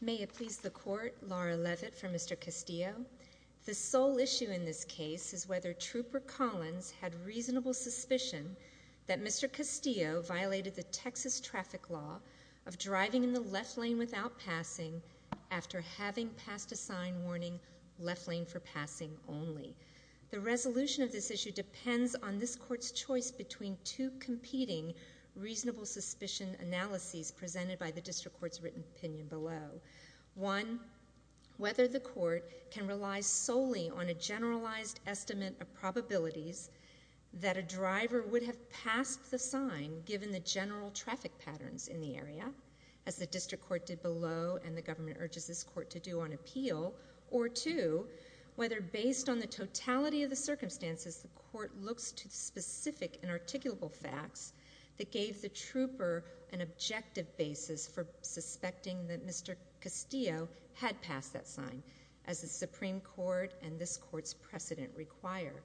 May it please the court, Laura Levitt for Mr. Castillo. The sole issue in this case is whether Trooper Collins had reasonable suspicion that Mr. Castillo violated the Texas traffic law of driving in the left lane without passing after having passed a sign warning left lane for passing only. The resolution of this issue depends on this court's choice between two competing reasonable suspicion analyses presented by the district court's written opinion below. One, whether the court can rely solely on a generalized estimate of probabilities that a driver would have passed the sign given the general traffic patterns in the area, as the district court did below and the government urges this court to do on appeal, or two, whether based on the totality of the circumstances the court looks to specific and articulable facts that gave the trooper an objective basis for suspecting that Mr. Castillo had passed that sign, as the Supreme Court and this court's precedent require.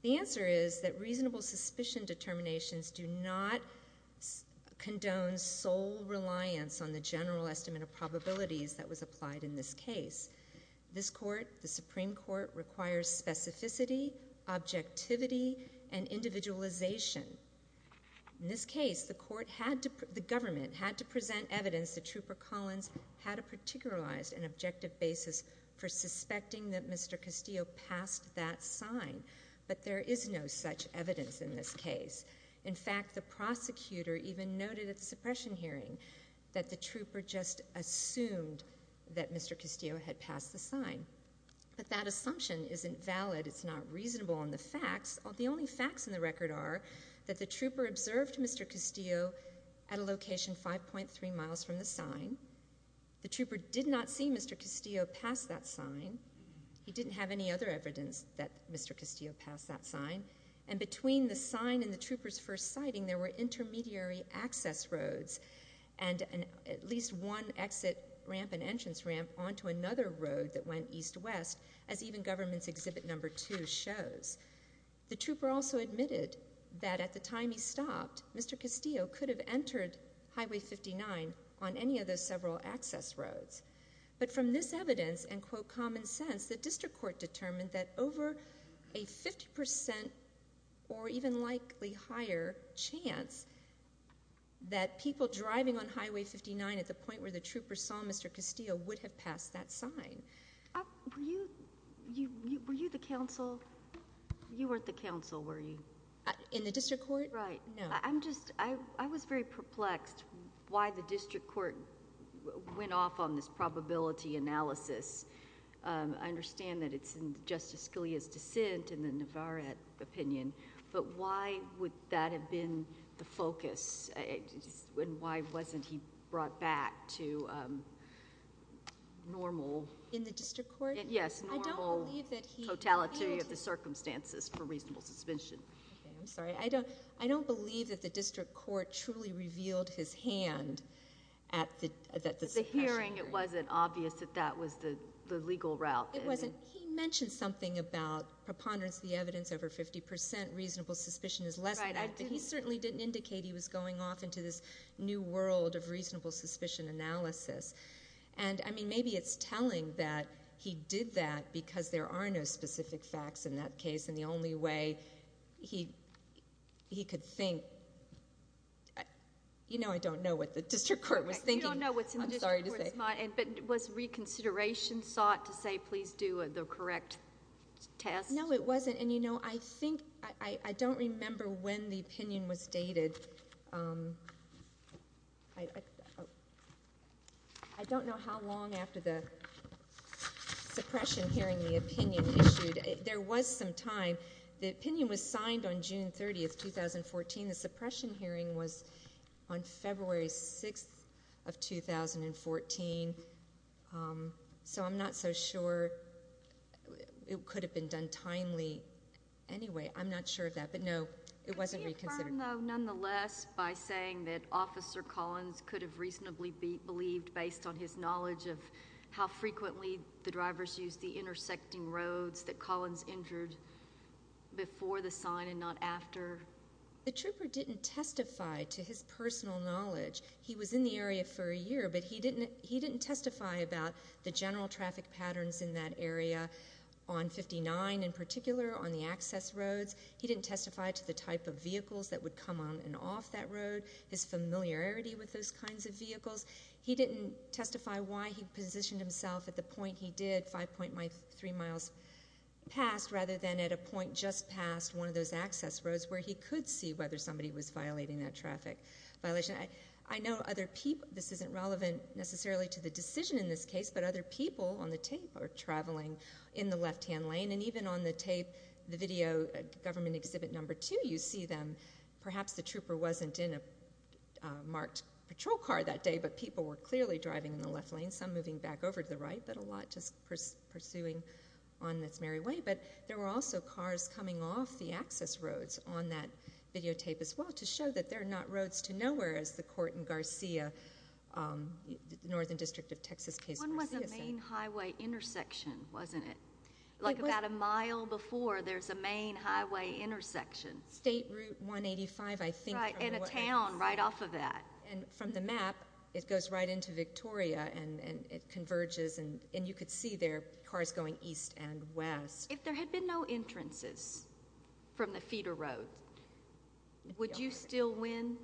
The answer is that reasonable suspicion determinations do not condone sole reliance on the general estimate of probabilities that was applied in this case. This court, the Supreme Court, requires specificity, objectivity, and individualization. In this case, the government had to present evidence that Trooper Collins had a particularized and objective basis for suspecting that Mr. Castillo passed that sign, but there is no such evidence in this case. In fact, the prosecutor even noted at the suppression hearing that the trooper just assumed that Mr. Castillo had passed the sign, but that assumption isn't valid. It's not reasonable on the facts. The only facts in the record are that the trooper observed Mr. Castillo at a location 5.3 miles from the sign. The trooper did not see Mr. Castillo pass that sign. He didn't have any other evidence that Mr. Castillo passed that sign, and between the sign and the trooper's first sighting, there were intermediary access roads, and at least one exit ramp and entrance ramp onto another road that went east-west, as even government's Exhibit No. 2 shows. The trooper also admitted that at the time he stopped, Mr. Castillo could have entered Highway 59 on any of those several access roads, but from this evidence and, quote, common sense, the district court determined that over a 50% or even likely higher chance that people driving on Highway 59 at the point where the trooper saw Mr. Castillo would have passed that sign. Were you the counsel? You weren't the counsel, were you? In the district court? Right. I'm just, I was very perplexed why the district court went off on this probability analysis. I understand that it's in Justice Scalia's dissent and the Navarrete opinion, but why would that have been the focus, and why wasn't he brought back to normal... In the district court? Yes, normal totality of the circumstances for reasonable suspension. Okay, I'm sorry. I don't believe that the district court truly revealed his hand at the... At the hearing, it wasn't obvious that that was the legal route, is it? It wasn't. He mentioned something about preponderance of the evidence over 50%, reasonable suspicion is less, but he certainly didn't indicate he was going off into this new world of reasonable suspicion analysis. And, I mean, maybe it's because he could think... You know I don't know what the district court was thinking. You don't know what's in the district court's mind, but was reconsideration sought to say, please do the correct test? No, it wasn't. And, you know, I think, I don't remember when the opinion was dated. I don't know how long after the hearing. It was signed on June 30th, 2014. The suppression hearing was on February 6th of 2014, so I'm not so sure. It could have been done timely. Anyway, I'm not sure of that, but no, it wasn't reconsidered. Could you confirm, though, nonetheless, by saying that Officer Collins could have reasonably believed based on his The trooper didn't testify to his personal knowledge. He was in the area for a year, but he didn't testify about the general traffic patterns in that area on 59 in particular, on the access roads. He didn't testify to the type of vehicles that would come on and off that road, his familiarity with those kinds of vehicles. He didn't testify why he positioned himself at the point he did, 5.3 miles past, rather than at a point just past one of those access roads where he could see whether somebody was violating that traffic violation. I know other people, this isn't relevant necessarily to the decision in this case, but other people on the tape are traveling in the left-hand lane, and even on the tape, the video, government exhibit number two, you see them. Perhaps the trooper wasn't in a marked patrol car that day, but people were clearly driving in the left lane, some moving back over to the right, but a lot just pursuing on this merry way. But there were also cars coming off the access roads on that videotape as well to show that they're not roads to nowhere, as the court in Garcia, the northern district of Texas case in Garcia said. One was a main highway intersection, wasn't it? Like about a mile before, there's a main highway intersection. State Route 185, I think. Right, and a town right off of that. And from the map, it goes right into Victoria, and it converges, and you could see there, cars going east and west. If there had been no entrances from the feeder road, would you still win?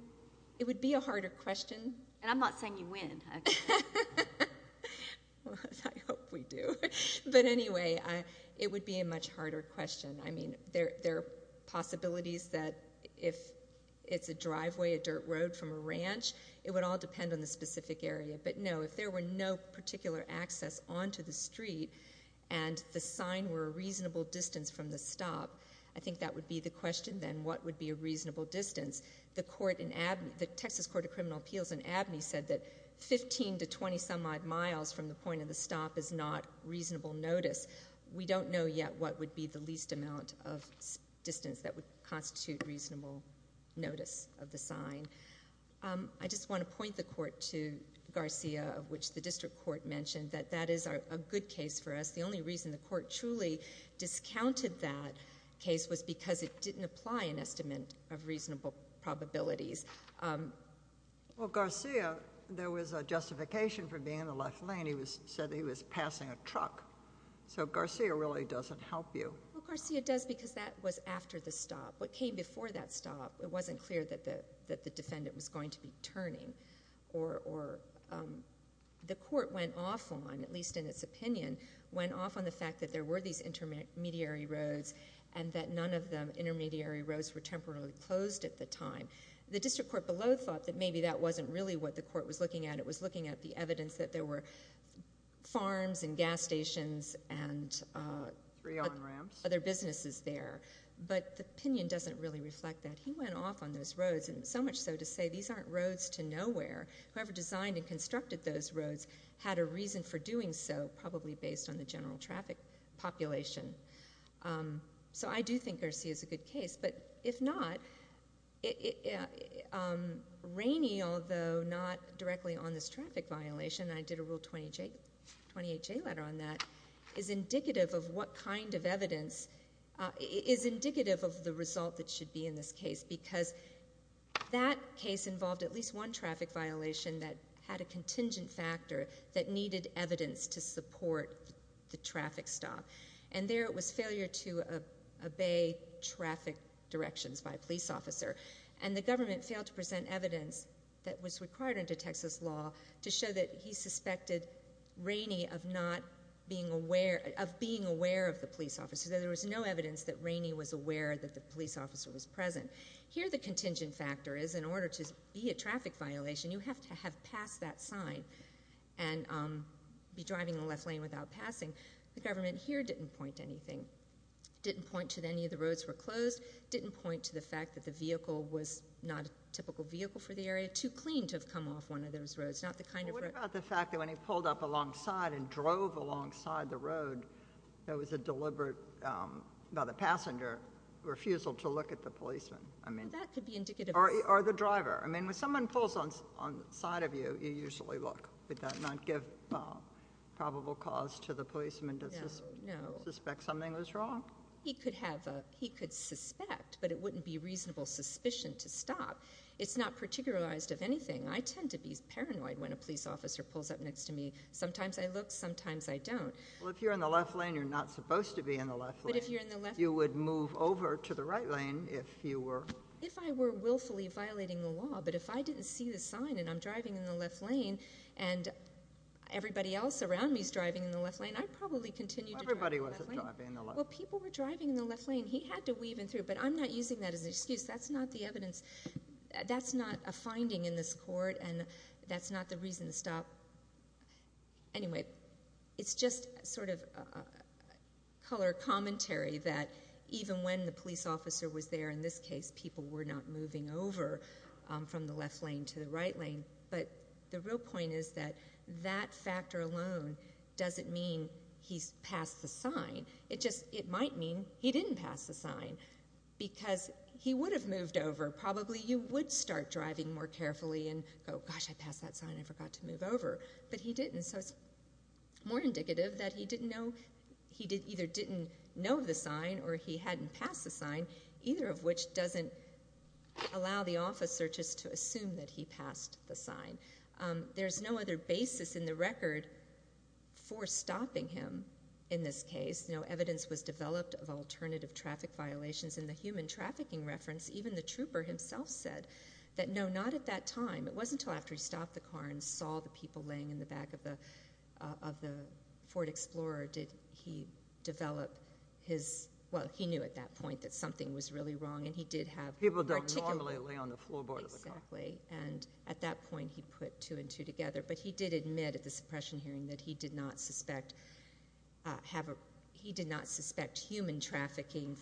It would be a harder question. And I'm not saying you win. Well, I hope we do. But anyway, it would be a much harder question. I mean, there are possibilities that if it's a driveway, a dirt road from a ranch, it would all depend on the specific area. But no, if there were no particular access onto the street, and the sign were a reasonable distance from the stop, I think that would be the question then, what would be a reasonable distance? The Texas Court of Criminal Appeals in Abney said that 15 to 20-some-odd miles from the point of the stop is not reasonable notice. We don't know yet what would be the least amount of distance that would constitute reasonable notice of the sign. I just want to point the court to Garcia, of which the district court mentioned, that that is a good case for us. The only reason the court truly discounted that case was because it didn't apply an estimate of reasonable probabilities. Well, Garcia, there was a justification for being in the left lane. He said he was passing a truck. So Garcia really doesn't help you. Well, Garcia does because that was after the stop. What came before that stop, it wasn't clear that the defendant was going to be turning. The court went off on, at least in its opinion, went off on the fact that there were these intermediary roads and that none of the intermediary roads were temporarily closed at the time. The district court below thought that maybe that wasn't really what the court was looking at. It was looking at the evidence that there were farms and gas stations and- Three on ramps. Other businesses there. But the opinion doesn't really reflect that. He went off on those roads, and so much so to say these aren't roads to nowhere. Whoever designed and constructed those roads had a reason for doing so, probably based on the general traffic population. So I do think Garcia's a good case, but if not, Rainey, although not directly on this traffic violation, I did a Rule 28J letter on that, is indicative of what kind of evidence, is indicative of the result that should be in this case, because that case involved at least one traffic violation that had a contingent factor that needed evidence to support the traffic stop. And there it was failure to obey traffic directions by a police officer. And the government failed to present evidence that was required under Texas law to show that he suspected Rainey of being aware of the police officer, that there was no evidence that Rainey was aware that the police officer was present. Here the contingent factor is, in order to be a traffic violation, you have to have passed that sign and be driving in the left lane without passing. The government here didn't point to anything, didn't point to any of the roads were closed, didn't point to the fact that the vehicle was not a typical vehicle for the area, too clean to have come off one of those roads. Not the kind of road- What about the fact that when he pulled up alongside and drove alongside the road, there was a deliberate, by the passenger, refusal to look at the policeman? I mean- That could be indicative of- Or the driver. I mean, when someone pulls on the side of you, you usually look. Would that not give probable cause to the policeman to suspect something was wrong? He could have a, he could suspect, but it wouldn't be reasonable suspicion to stop. It's not particularized of anything. I tend to be paranoid when a police officer pulls up next to me. Sometimes I look, sometimes I don't. Well, if you're in the left lane, you're not supposed to be in the left lane. But if you're in the left- You would move over to the right lane if you were- But if I didn't see the sign and I'm driving in the left lane and everybody else around me is driving in the left lane, I'd probably continue to drive in the left lane. Well, everybody was driving in the left lane. Well, people were driving in the left lane. He had to weave in through, but I'm not using that as an excuse. That's not the evidence. That's not a finding in this court, and that's not the reason to stop. Anyway, it's just sort of color commentary that even when the police officer was there, in this case, people were not moving over from the left lane to the right lane. But the real point is that that factor alone doesn't mean he's passed the sign. It just, it might mean he didn't pass the sign because he would have moved over. Probably you would start driving more carefully and go, gosh, I passed that sign, I forgot to move over. But he didn't, so it's more indicative that he either didn't know the sign or he hadn't passed the sign, either of which doesn't allow the officer just to assume that he passed the sign. There's no other basis in the record for stopping him in this case. No evidence was developed of alternative traffic violations. In the human trafficking reference, even the trooper himself said that no, not at that time. It wasn't until after he stopped the car and saw the people laying in the back of the Ford Explorer did he develop his, well, he knew at that point that something was really wrong and he did have- People don't normally lay on the floorboard of the car. Exactly, and at that point he put two and two together. But he did admit at the suppression hearing that he did not suspect human trafficking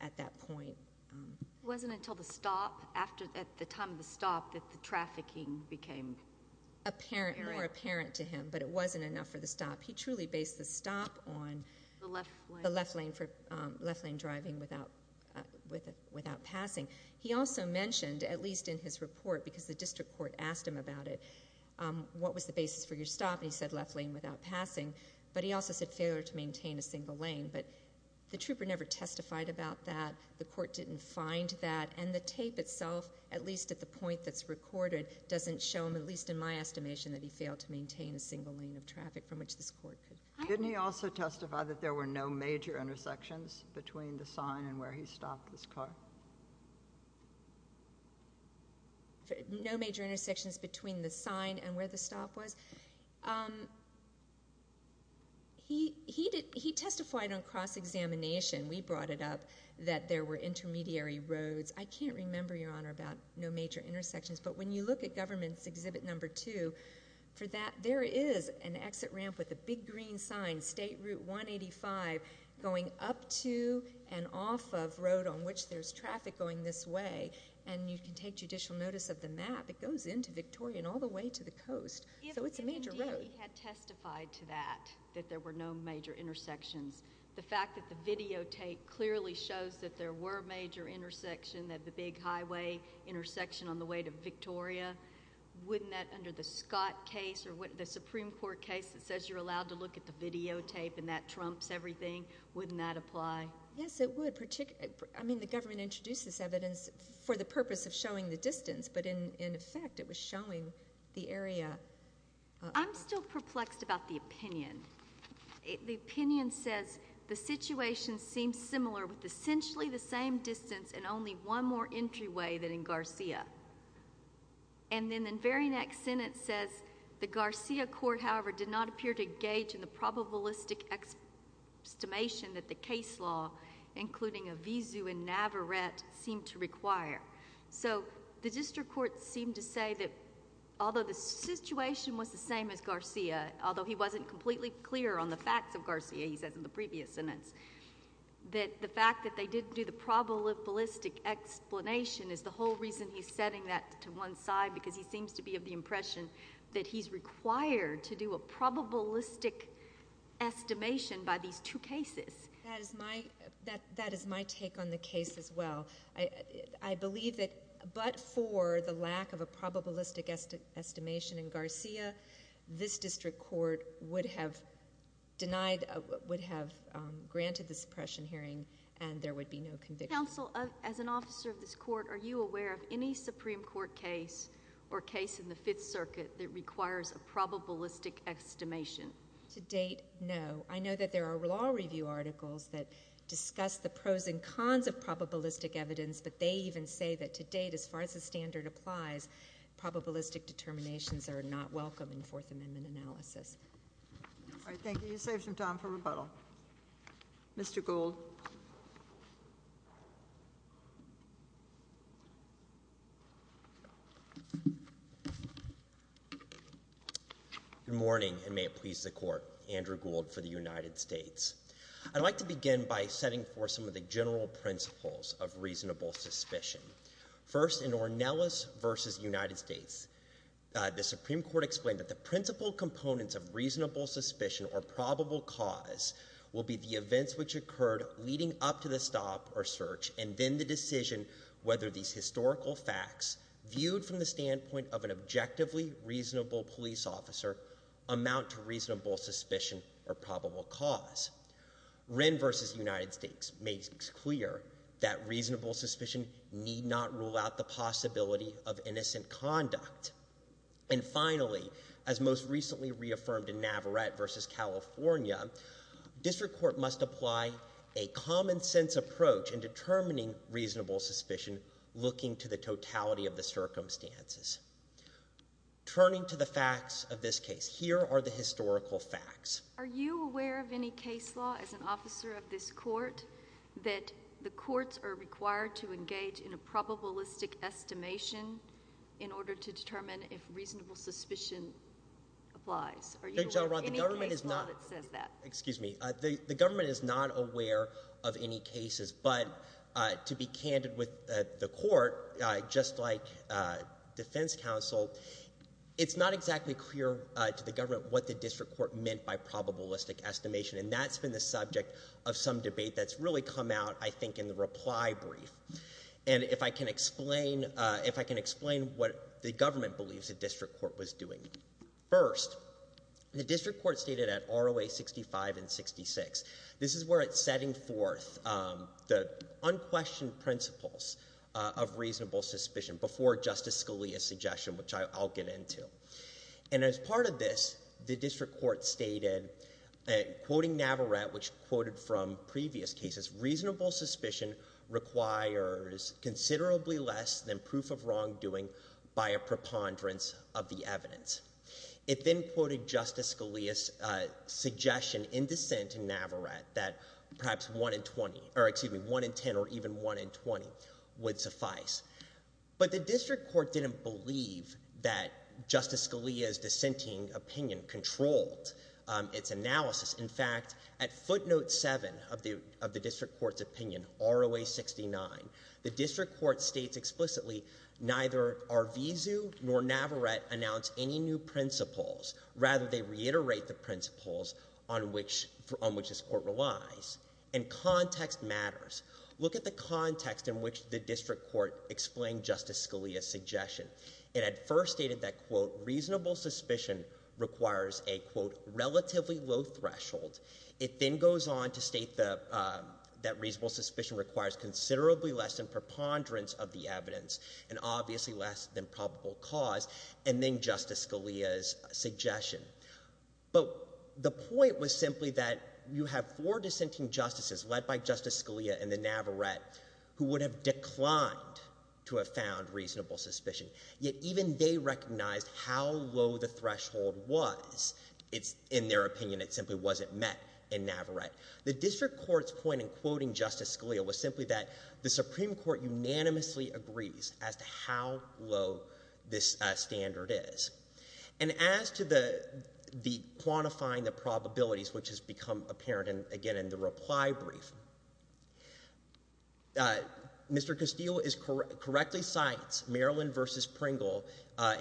at that point. It wasn't until the stop, at the time of the stop, that the trafficking became- More apparent to him, but it wasn't enough for the stop. He truly based the stop on the left lane driving without passing. He also mentioned, at least in his report, because the district court asked him about it, what was the basis for your stop, and he said left lane without passing. But he also said failure to maintain a single lane. But the trooper never testified about that. The court didn't find that. And the tape itself, at least at the point that's recorded, doesn't show him, at least in my estimation, that he failed to maintain a single lane of traffic from which this court could- Didn't he also testify that there were no major intersections between the sign and where he stopped this car? No major intersections between the sign and where the stop was? He testified on cross-examination. We brought it up that there were intermediary roads. I can't remember, Your Honor, about no major intersections. But when you look at Government's Exhibit No. 2, there is an exit ramp with a big green sign, State Route 185, going up to and off of road on which there's traffic going this way. And you can take judicial notice of the map. It goes into Victoria and all the way to the coast. So it's a major road. If he had testified to that, that there were no major intersections, the fact that the videotape clearly shows that there were major intersections, that the big highway intersection on the way to Victoria, wouldn't that under the Scott case or the Supreme Court case that says you're allowed to look at the videotape and that trumps everything, wouldn't that apply? Yes, it would. I mean, the government introduced this evidence for the purpose of showing the distance, but in effect it was showing the area. I'm still perplexed about the opinion. The opinion says the situation seems similar with essentially the same distance and only one more entryway than in Garcia. And then the very next sentence says, the Garcia court, however, did not appear to engage in the probabilistic estimation that the case law, including Avizu and Navarette, seemed to require. So the district court seemed to say that although the situation was the same as Garcia, although he wasn't completely clear on the facts of Garcia, he says in the previous sentence, that the fact that they didn't do the probabilistic explanation is the whole reason he's setting that to one side because he seems to be of the impression that he's required to do a probabilistic estimation by these two cases. That is my take on the case as well. I believe that but for the lack of a probabilistic estimation in Garcia, this district court would have denied, would have granted the suppression hearing, and there would be no conviction. Counsel, as an officer of this court, are you aware of any Supreme Court case or case in the Fifth Circuit that requires a probabilistic estimation? To date, no. I know that there are law review articles that discuss the pros and cons of probabilistic evidence, but they even say that to date, as far as the standard applies, probabilistic determinations are not welcome in Fourth Amendment analysis. All right, thank you. You saved some time for rebuttal. Mr. Gould. Good morning, and may it please the Court. Andrew Gould for the United States. I'd like to begin by setting forth some of the general principles of reasonable suspicion. First, in Ornelas v. United States, the Supreme Court explained that the principal components of reasonable suspicion or probable cause will be the events which occurred leading up to the stop or search and then the decision whether these historical facts, viewed from the standpoint of an objectively reasonable police officer, amount to reasonable suspicion or probable cause. Wren v. United States makes it clear that reasonable suspicion need not rule out the possibility of innocent conduct. And finally, as most recently reaffirmed in Navarrete v. California, district court must apply a common-sense approach in determining reasonable suspicion, looking to the totality of the circumstances. Turning to the facts of this case, here are the historical facts. Are you aware of any case law as an officer of this court that the courts are required to engage in a probabilistic estimation in order to determine if reasonable suspicion applies? Are you aware of any case law that says that? Excuse me. The government is not aware of any cases, but to be candid with the court, just like defense counsel, it's not exactly clear to the government what the district court meant by probabilistic estimation, and that's been the subject of some debate that's really come out, I think, in the reply brief. And if I can explain what the government believes the district court was doing. First, the district court stated at R.O.A. 65 and 66, this is where it's setting forth the unquestioned principles of reasonable suspicion before Justice Scalia's suggestion, which I'll get into. And as part of this, the district court stated, quoting Navarrete, which quoted from previous cases, reasonable suspicion requires considerably less than proof of wrongdoing by a preponderance of the evidence. It then quoted Justice Scalia's suggestion in dissent in Navarrete that perhaps 1 in 20, or excuse me, 1 in 10 or even 1 in 20 would suffice. But the district court didn't believe that Justice Scalia's dissenting opinion controlled its analysis. In fact, at footnote 7 of the district court's opinion, R.O.A. 69, the district court states explicitly neither Arvizu nor Navarrete announced any new principles. Rather, they reiterate the principles on which this court relies. And context matters. Look at the context in which the district court explained Justice Scalia's suggestion. It had first stated that, quote, reasonable suspicion requires a, quote, relatively low threshold. It then goes on to state that reasonable suspicion requires considerably less than preponderance of the evidence and obviously less than probable cause, and then Justice Scalia's suggestion. But the point was simply that you have four dissenting justices led by Justice Scalia and the Navarrete who would have declined to have found reasonable suspicion, yet even they recognized how low the threshold was. In their opinion, it simply wasn't met in Navarrete. The district court's point in quoting Justice Scalia was simply that the Supreme Court unanimously agrees as to how low this standard is. And as to the quantifying the probabilities, which has become apparent again in the reply brief, Mr. Castile correctly cites Maryland v. Pringle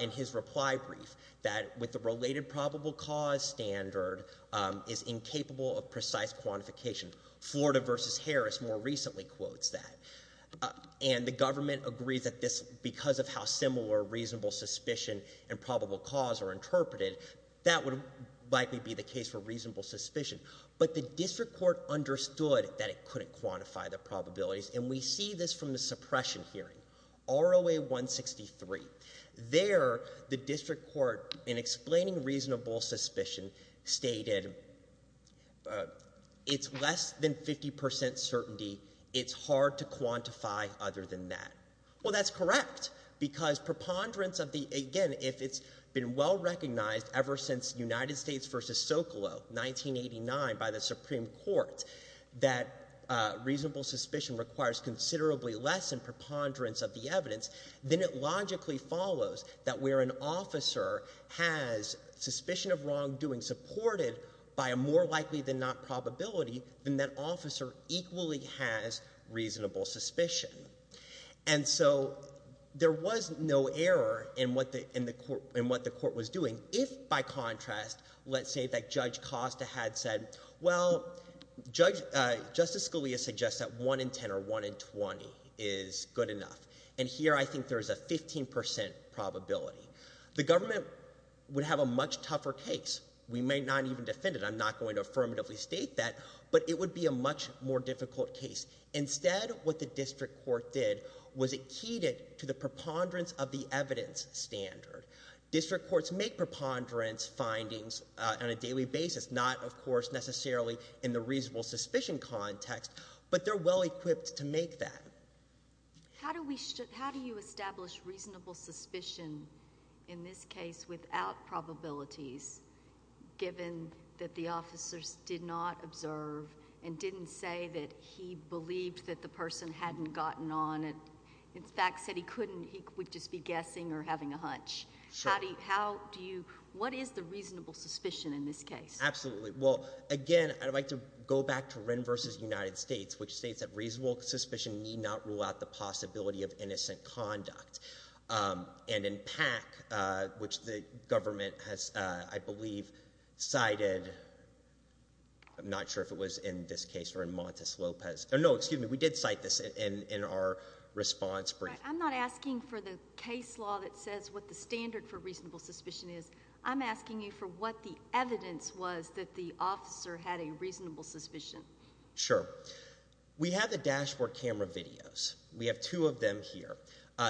in his reply brief that with the related probable cause standard is incapable of precise quantification. Florida v. Harris more recently quotes that. And the government agrees that this, because of how similar reasonable suspicion and probable cause are interpreted, that would likely be the case for reasonable suspicion. But the district court understood that it couldn't quantify the probabilities, and we see this from the suppression hearing, ROA 163. There the district court, in explaining reasonable suspicion, stated it's less than 50% certainty. It's hard to quantify other than that. Well, that's correct because preponderance of the, again, if it's been well recognized ever since United States v. Socolow 1989 by the Supreme Court that reasonable suspicion requires considerably less than preponderance of the evidence, then it logically follows that where an officer has suspicion of wrongdoing supported by a more likely than not probability, then that officer equally has reasonable suspicion. And so there was no error in what the court was doing if, by contrast, let's say that Judge Costa had said, well, Justice Scalia suggests that 1 in 10 or 1 in 20 is good enough. And here I think there is a 15% probability. The government would have a much tougher case. We may not even defend it. I'm not going to affirmatively state that, but it would be a much more difficult case. Instead, what the district court did was it keyed it to the preponderance of the evidence standard. District courts make preponderance findings on a daily basis, not, of course, necessarily in the reasonable suspicion context, but they're well equipped to make that. How do you establish reasonable suspicion in this case without probabilities given that the officers did not observe and didn't say that he believed that the person hadn't gotten on and, in fact, said he couldn't, he would just be guessing or having a hunch? Sure. What is the reasonable suspicion in this case? Absolutely. Well, again, I'd like to go back to Wren v. United States, which states that reasonable suspicion need not rule out the possibility of innocent conduct. And in PAC, which the government has, I believe, cited, I'm not sure if it was in this case or in Montes Lopez. No, excuse me, we did cite this in our response brief. I'm not asking for the case law that says what the standard for reasonable suspicion is. I'm asking you for what the evidence was that the officer had a reasonable suspicion. Sure. We have the dashboard camera videos. We have two of them here.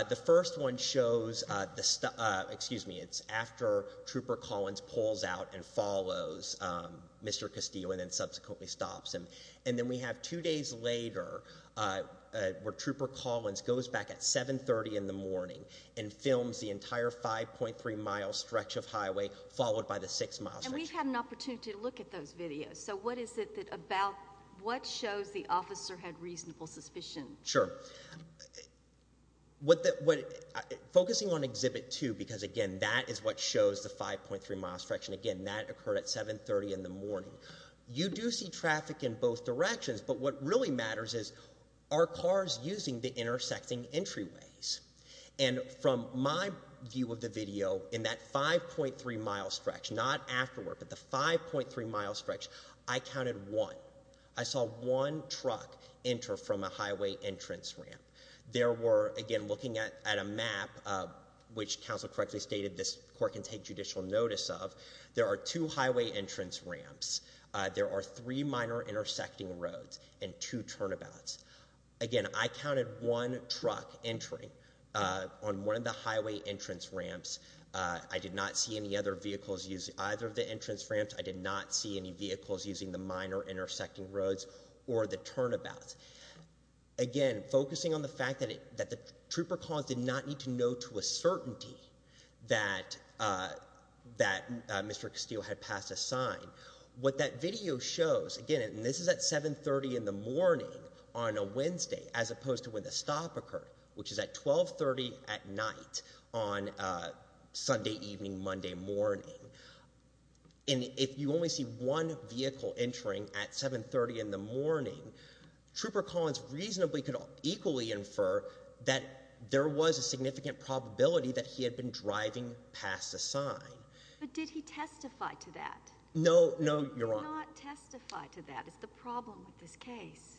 The first one shows the stop, excuse me, it's after Trooper Collins pulls out and follows Mr. Castillo and then subsequently stops him. And then we have two days later where Trooper Collins goes back at 7.30 in the morning and films the entire 5.3-mile stretch of highway followed by the six-mile stretch. And we've had an opportunity to look at those videos. So what is it about what shows the officer had reasonable suspicion? Sure. Focusing on Exhibit 2, because, again, that is what shows the 5.3-mile stretch, and, again, that occurred at 7.30 in the morning, you do see traffic in both directions. But what really matters is are cars using the intersecting entryways? And from my view of the video, in that 5.3-mile stretch, not afterward, but the 5.3-mile stretch, I counted one. I saw one truck enter from a highway entrance ramp. There were, again, looking at a map, which counsel correctly stated this court can take judicial notice of, there are two highway entrance ramps, there are three minor intersecting roads, and two turnabouts. Again, I counted one truck entering on one of the highway entrance ramps. I did not see any other vehicles use either of the entrance ramps. I did not see any vehicles using the minor intersecting roads or the turnabouts. Again, focusing on the fact that the trooper calls did not need to know to a certainty that Mr. Castillo had passed a sign, what that video shows, again, and this is at 7.30 in the morning on a Wednesday as opposed to when the stop occurred, which is at 12.30 at night on Sunday evening, Monday morning. And if you only see one vehicle entering at 7.30 in the morning, Trooper Collins reasonably could equally infer that there was a significant probability that he had been driving past a sign. But did he testify to that? No, Your Honor. He did not testify to that is the problem with this case.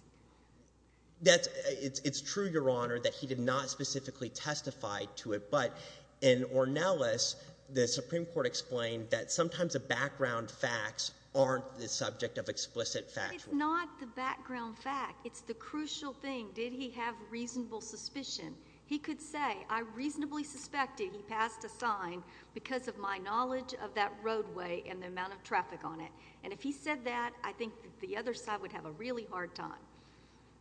It's true, Your Honor, that he did not specifically testify to it. But in Ornelas, the Supreme Court explained that sometimes the background facts aren't the subject of explicit factual. It's not the background fact. It's the crucial thing. Did he have reasonable suspicion? He could say, I reasonably suspected he passed a sign because of my knowledge of that roadway and the amount of traffic on it. And if he said that, I think the other side would have a really hard time.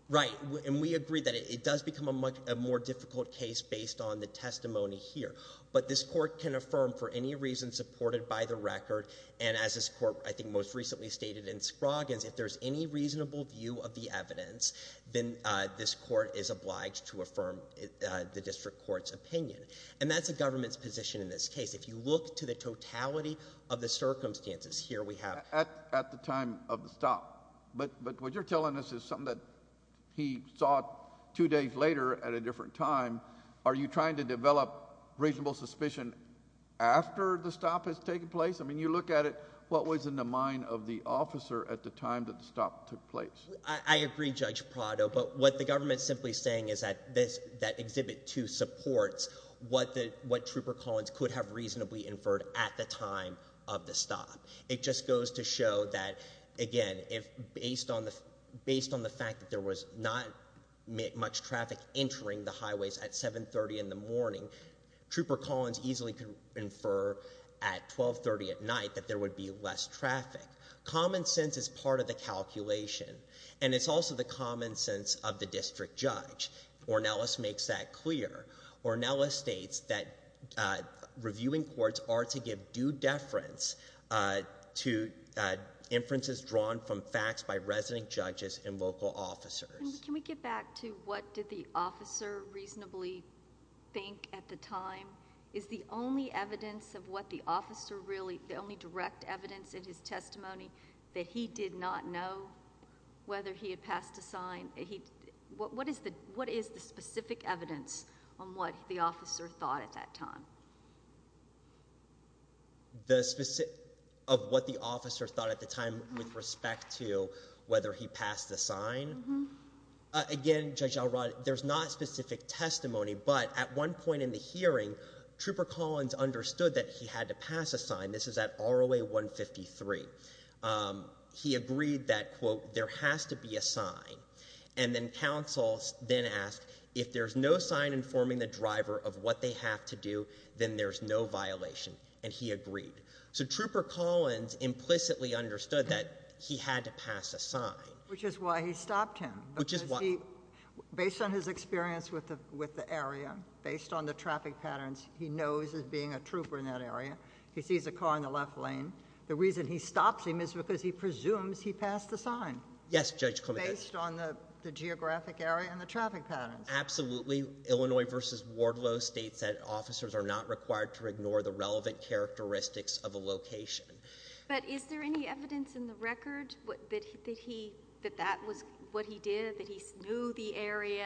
Right. And we agree that it does become a more difficult case based on the testimony here. But this court can affirm for any reason supported by the record. And as this court I think most recently stated in Scroggins, if there's any reasonable view of the evidence, then this court is obliged to affirm the district court's opinion. And that's the government's position in this case. If you look to the totality of the circumstances here we have. At the time of the stop. But what you're telling us is something that he saw two days later at a different time. Are you trying to develop reasonable suspicion after the stop has taken place? I mean, you look at it, what was in the mind of the officer at the time that the stop took place? I agree, Judge Prado. But what the government is simply saying is that Exhibit 2 supports what Trooper Collins could have reasonably inferred at the time of the stop. It just goes to show that, again, based on the fact that there was not much traffic entering the highways at 7.30 in the morning, Trooper Collins easily could infer at 12.30 at night that there would be less traffic. Common sense is part of the calculation. And it's also the common sense of the district judge. Ornelas makes that clear. Ornelas states that reviewing courts are to give due deference to inferences drawn from facts by resident judges and local officers. Can we get back to what did the officer reasonably think at the time? Is the only evidence of what the officer really, the only direct evidence in his testimony that he did not know whether he had passed a sign? What is the specific evidence on what the officer thought at that time? Of what the officer thought at the time with respect to whether he passed the sign? Again, Judge Elrod, there's not specific testimony. But at one point in the hearing, Trooper Collins understood that he had to pass a sign. This is at ROA 153. He agreed that, quote, there has to be a sign. And then counsel then asked, if there's no sign informing the driver of what they have to do, then there's no violation. And he agreed. So Trooper Collins implicitly understood that he had to pass a sign. Which is why he stopped him. Which is why. Because he, based on his experience with the area, based on the traffic patterns, he knows as being a trooper in that area. He sees a car in the left lane. The reason he stops him is because he presumes he passed the sign. Yes, Judge Clement. Based on the geographic area and the traffic patterns. Absolutely. Illinois v. Wardlow states that officers are not required to ignore the relevant characteristics of a location. But is there any evidence in the record that that was what he did, that he knew the area?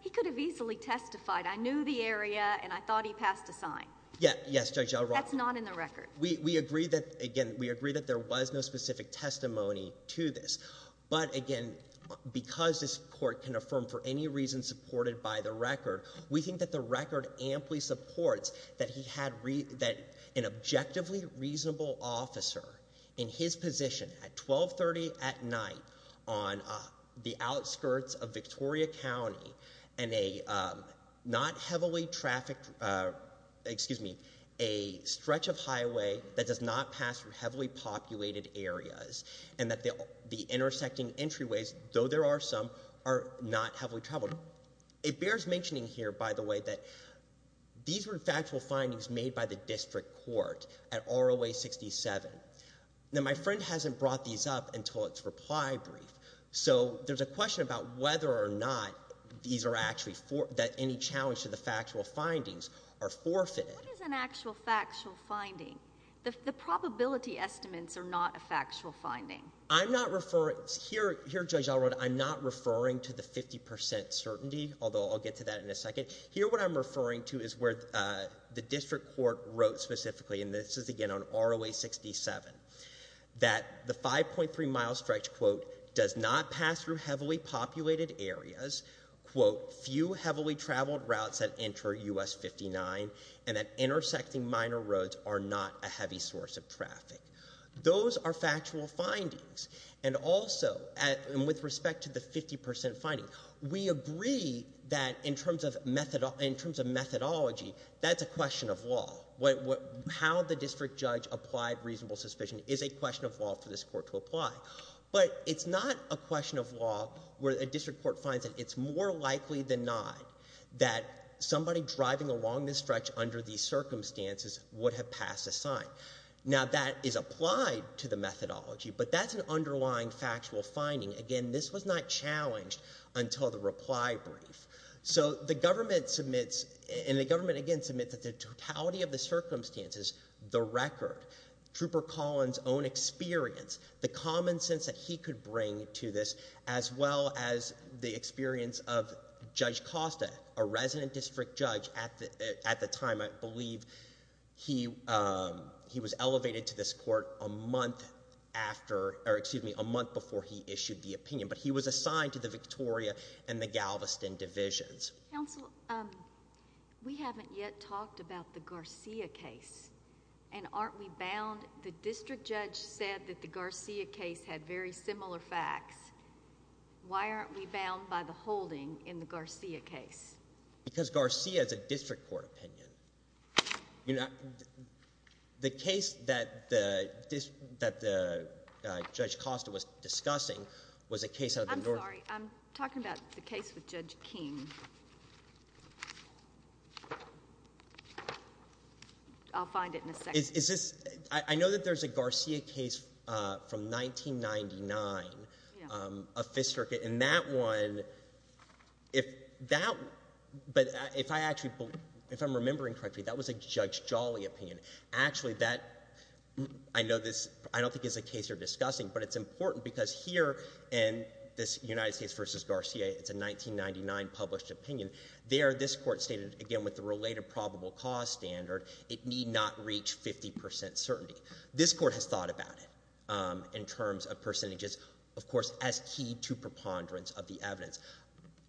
He could have easily testified, I knew the area and I thought he passed a sign. Yes, Judge Elrod. That's not in the record. We agree that, again, we agree that there was no specific testimony to this. But, again, because this court can affirm for any reason supported by the record, we think that the record amply supports that he had an objectively reasonable officer in his position at 1230 at night on the outskirts of Victoria County in a not heavily trafficked, excuse me, a stretch of highway that does not pass through heavily populated areas and that the intersecting entryways, though there are some, are not heavily traveled. It bears mentioning here, by the way, that these were factual findings made by the district court at ROA 67. Now, my friend hasn't brought these up until its reply brief. So there's a question about whether or not these are actually – that any challenge to the factual findings are forfeited. What is an actual factual finding? The probability estimates are not a factual finding. I'm not – here, Judge Elrod, I'm not referring to the 50 percent certainty, although I'll get to that in a second. Here, what I'm referring to is where the district court wrote specifically, and this is, again, on ROA 67, that the 5.3-mile stretch, quote, does not pass through heavily populated areas, quote, few heavily traveled routes that enter U.S. 59, and that intersecting minor roads are not a heavy source of traffic. Those are factual findings. And also, with respect to the 50 percent finding, we agree that in terms of methodology, that's a question of law. How the district judge applied reasonable suspicion is a question of law for this court to apply. But it's not a question of law where a district court finds that it's more likely than not that somebody driving along this stretch under these circumstances would have passed a sign. Now, that is applied to the methodology, but that's an underlying factual finding. Again, this was not challenged until the reply brief. So the government submits – and the government, again, submits the totality of the circumstances, the record, Trooper Collins' own experience, the common sense that he could bring to this, as well as the experience of Judge Costa, a resident district judge at the time. I believe he was elevated to this court a month after – or excuse me, a month before he issued the opinion. But he was assigned to the Victoria and the Galveston divisions. Counsel, we haven't yet talked about the Garcia case, and aren't we bound? The district judge said that the Garcia case had very similar facts. Why aren't we bound by the holding in the Garcia case? Because Garcia is a district court opinion. The case that the judge Costa was discussing was a case out of the – I'm sorry. I'm talking about the case with Judge King. I'll find it in a second. Is this – I know that there's a Garcia case from 1999, a Fifth Circuit. And that one, if that – but if I actually – if I'm remembering correctly, that was a Judge Jolly opinion. Actually, that – I know this – I don't think it's a case you're discussing, but it's important because here in this United States v. Garcia, it's a 1999 published opinion. There, this court stated, again, with the related probable cause standard, it need not reach 50 percent certainty. This court has thought about it in terms of percentages, of course, as key to preponderance of the evidence.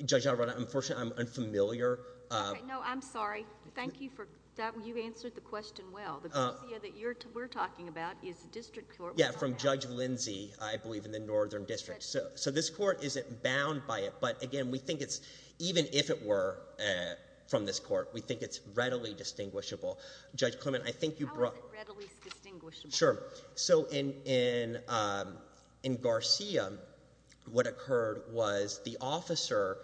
Judge Alvarado, unfortunately, I'm unfamiliar. No, I'm sorry. Thank you for – you answered the question well. The Garcia that you're – we're talking about is a district court opinion. Yeah, from Judge Lindsey, I believe, in the Northern District. So this court isn't bound by it. But again, we think it's – even if it were from this court, we think it's readily distinguishable. Judge Clement, I think you brought – How is it readily distinguishable? Sure. So in Garcia, what occurred was the officer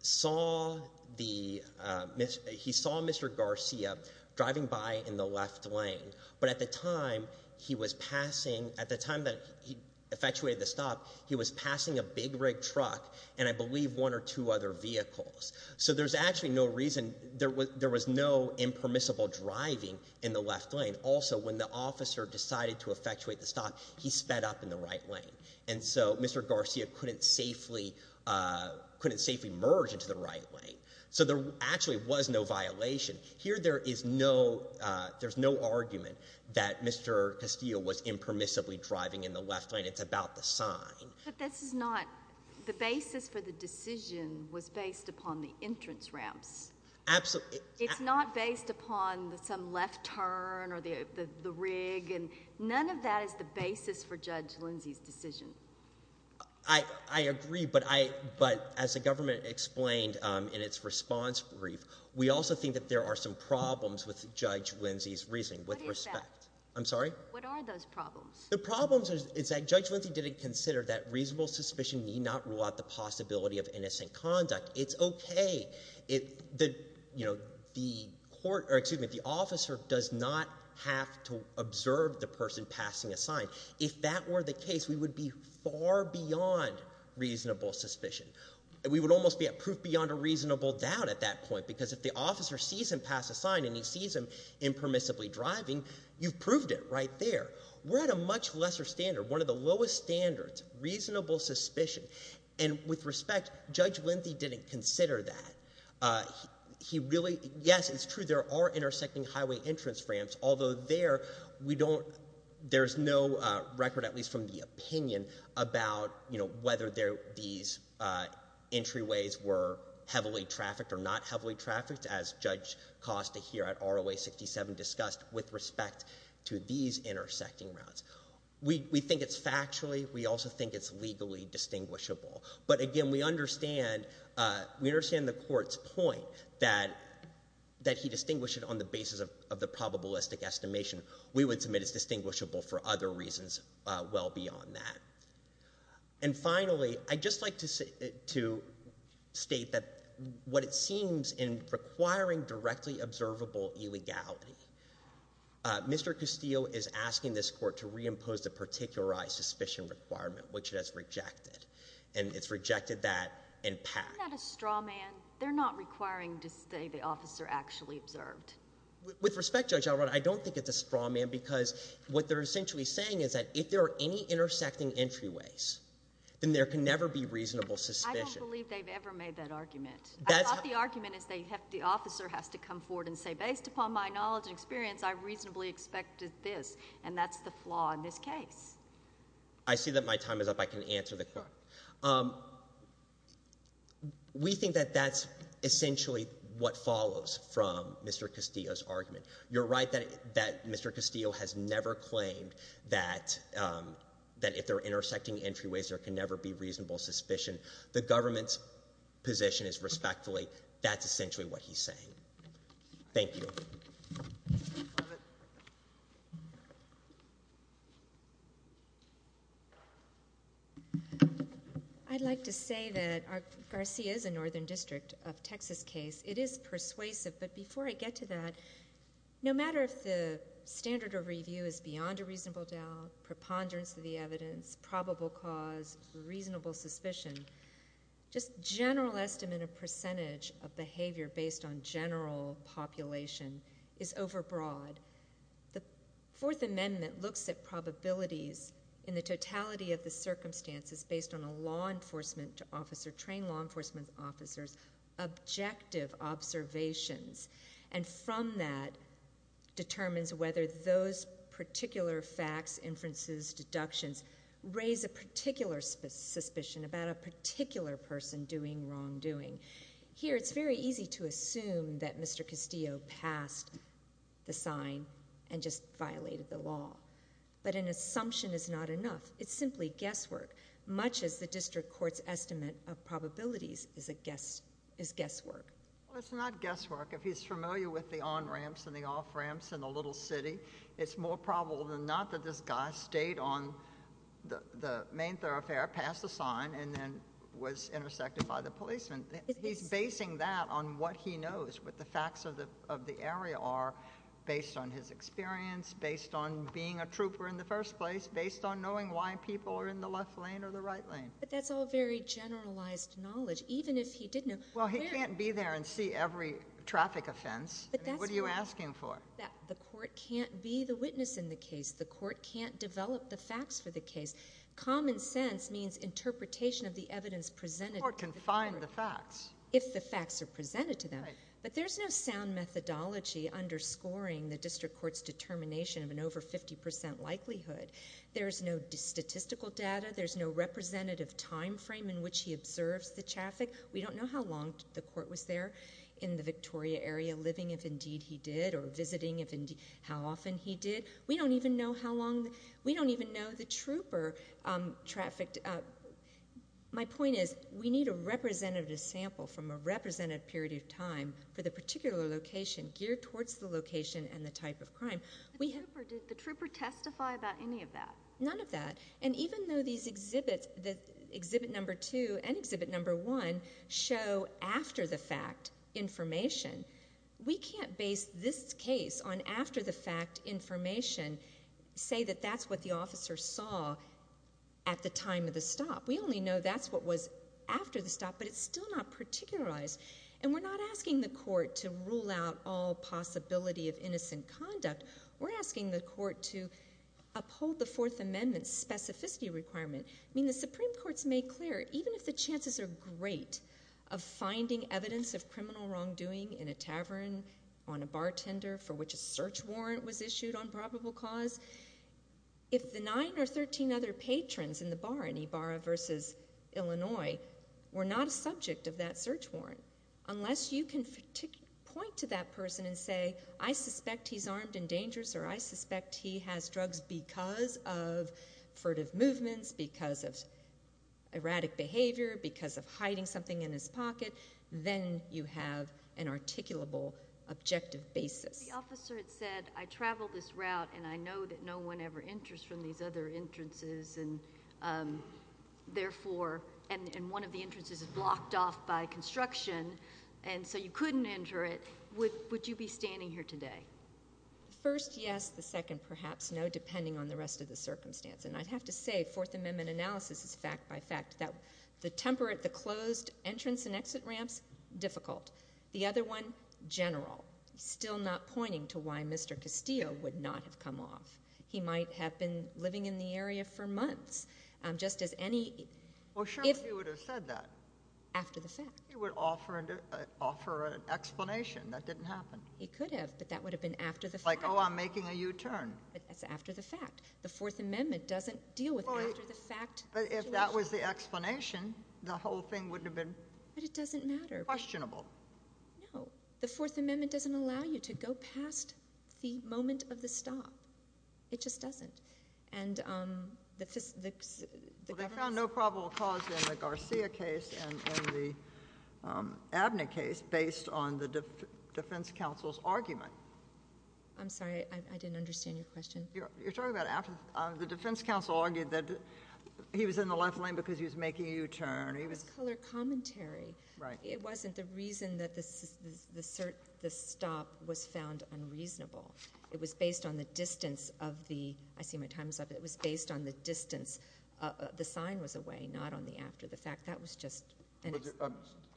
saw the – he saw Mr. Garcia driving by in the left lane. But at the time he was passing – at the time that he effectuated the stop, he was passing a big rig truck and, I believe, one or two other vehicles. So there's actually no reason – there was no impermissible driving in the left lane. Also, when the officer decided to effectuate the stop, he sped up in the right lane. And so Mr. Garcia couldn't safely – couldn't safely merge into the right lane. So there actually was no violation. Here there is no – there's no argument that Mr. Castillo was impermissibly driving in the left lane. It's about the sign. But this is not – the basis for the decision was based upon the entrance ramps. Absolutely. It's not based upon some left turn or the rig. None of that is the basis for Judge Lindsey's decision. I agree, but I – but as the government explained in its response brief, we also think that there are some problems with Judge Lindsey's reasoning with respect. What is that? I'm sorry? What are those problems? The problems is that Judge Lindsey didn't consider that reasonable suspicion need not rule out the possibility of innocent conduct. It's okay. The court – or, excuse me, the officer does not have to observe the person passing a sign. If that were the case, we would be far beyond reasonable suspicion. We would almost be at proof beyond a reasonable doubt at that point because if the officer sees him pass a sign and he sees him impermissibly driving, you've proved it right there. We're at a much lesser standard, one of the lowest standards, reasonable suspicion. And with respect, Judge Lindsey didn't consider that. He really – yes, it's true. There are intersecting highway entrance ramps, although there, we don't – there's no record, at least from the opinion, about whether these entryways were heavily trafficked or not heavily trafficked, as Judge Costa here at ROA 67 discussed, with respect to these intersecting routes. We think it's factually. We also think it's legally distinguishable. But again, we understand the court's point that he distinguished it on the basis of the probabilistic estimation. We would submit it's distinguishable for other reasons well beyond that. And finally, I'd just like to state that what it seems in requiring directly observable illegality, Mr. Castillo is asking this court to reimpose the particularized suspicion requirement, which it has rejected. And it's rejected that in pact. Isn't that a straw man? They're not requiring to say the officer actually observed. With respect, Judge Alrono, I don't think it's a straw man because what they're essentially saying is that if there are any intersecting entryways, then there can never be reasonable suspicion. I don't believe they've ever made that argument. I thought the argument is that the officer has to come forward and say, based upon my knowledge and experience, I reasonably expected this, and that's the flaw in this case. I see that my time is up. I can answer the court. We think that that's essentially what follows from Mr. Castillo's argument. You're right that Mr. Castillo has never claimed that if there are intersecting entryways, there can never be reasonable suspicion. The government's position is respectfully that's essentially what he's saying. Thank you. I'd like to say that Garcia is a northern district of Texas case. It is persuasive. But before I get to that, no matter if the standard of review is beyond a reasonable doubt, preponderance of the evidence, probable cause, reasonable suspicion, just general estimate of percentage of behavior based on general population is overbroad. The Fourth Amendment looks at probabilities in the totality of the circumstances based on a law enforcement officer, trained law enforcement officers, objective observations. And from that, determines whether those particular facts, inferences, deductions, raise a particular suspicion about a particular person doing wrongdoing. Here, it's very easy to assume that Mr. Castillo passed the sign and just violated the law. But an assumption is not enough. It's simply guesswork. Much as the district court's estimate of probabilities is guesswork. Well, it's not guesswork. If he's familiar with the on-ramps and the off-ramps in the little city, it's more probable than not that this guy stayed on the main thoroughfare, passed the sign, and then was intersected by the policeman. He's basing that on what he knows, what the facts of the area are, based on his experience, based on being a trooper in the first place, based on knowing why people are in the left lane or the right lane. But that's all very generalized knowledge. Even if he did know— Well, he can't be there and see every traffic offense. What are you asking for? The court can't be the witness in the case. The court can't develop the facts for the case. Common sense means interpretation of the evidence presented. The court can find the facts. If the facts are presented to them. Right. But there's no sound methodology underscoring the district court's determination of an over 50% likelihood. There's no statistical data. There's no representative time frame in which he observes the traffic. We don't know how long the court was there in the Victoria area living, if indeed he did, or visiting, if indeed—how often he did. We don't even know how long—we don't even know the trooper trafficked. My point is we need a representative sample from a representative period of time for the particular location, geared towards the location and the type of crime. Did the trooper testify about any of that? None of that. And even though these exhibits, exhibit number two and exhibit number one, show after-the-fact information, we can't base this case on after-the-fact information, say that that's what the officer saw at the time of the stop. We only know that's what was after the stop, but it's still not particularized. And we're not asking the court to rule out all possibility of innocent conduct. We're asking the court to uphold the Fourth Amendment's specificity requirement. I mean, the Supreme Court's made clear, even if the chances are great of finding evidence of criminal wrongdoing in a tavern, on a bartender, for which a search warrant was issued on probable cause, if the nine or 13 other patrons in the bar, in Ibarra versus Illinois, were not a subject of that search warrant, unless you can point to that person and say, I suspect he's armed and dangerous, or I suspect he has drugs because of furtive movements, because of erratic behavior, because of hiding something in his pocket, then you have an articulable, objective basis. The officer had said, I traveled this route, and I know that no one ever enters from these other entrances, and therefore, and one of the entrances is blocked off by construction, and so you couldn't enter it. Would you be standing here today? First, yes. The second, perhaps no, depending on the rest of the circumstance. And I'd have to say Fourth Amendment analysis is fact by fact. The temperate, the closed entrance and exit ramps, difficult. The other one, general, still not pointing to why Mr. Castillo would not have come off. He might have been living in the area for months, just as any – Well, surely he would have said that. After the fact. He would offer an explanation that didn't happen. He could have, but that would have been after the fact. Like, oh, I'm making a U-turn. That's after the fact. The Fourth Amendment doesn't deal with after the fact situations. But if that was the explanation, the whole thing would have been questionable. But it doesn't matter. No. The Fourth Amendment doesn't allow you to go past the moment of the stop. It just doesn't. Well, they found no probable cause in the Garcia case and the Abnett case based on the defense counsel's argument. I'm sorry. I didn't understand your question. You're talking about after the defense counsel argued that he was in the left lane because he was making a U-turn. It was color commentary. Right. It wasn't the reason that the stop was found unreasonable. It was based on the distance of the – I see my time's up. It was based on the distance. The sign was away, not on the after the fact. That was just –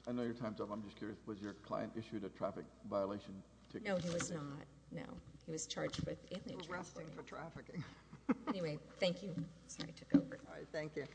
I know your time's up. I'm just curious. Was your client issued a traffic violation ticket? No, he was not. No. He was charged with – We're wrestling for trafficking. Anyway, thank you. Sorry I took over. All right. Thank you.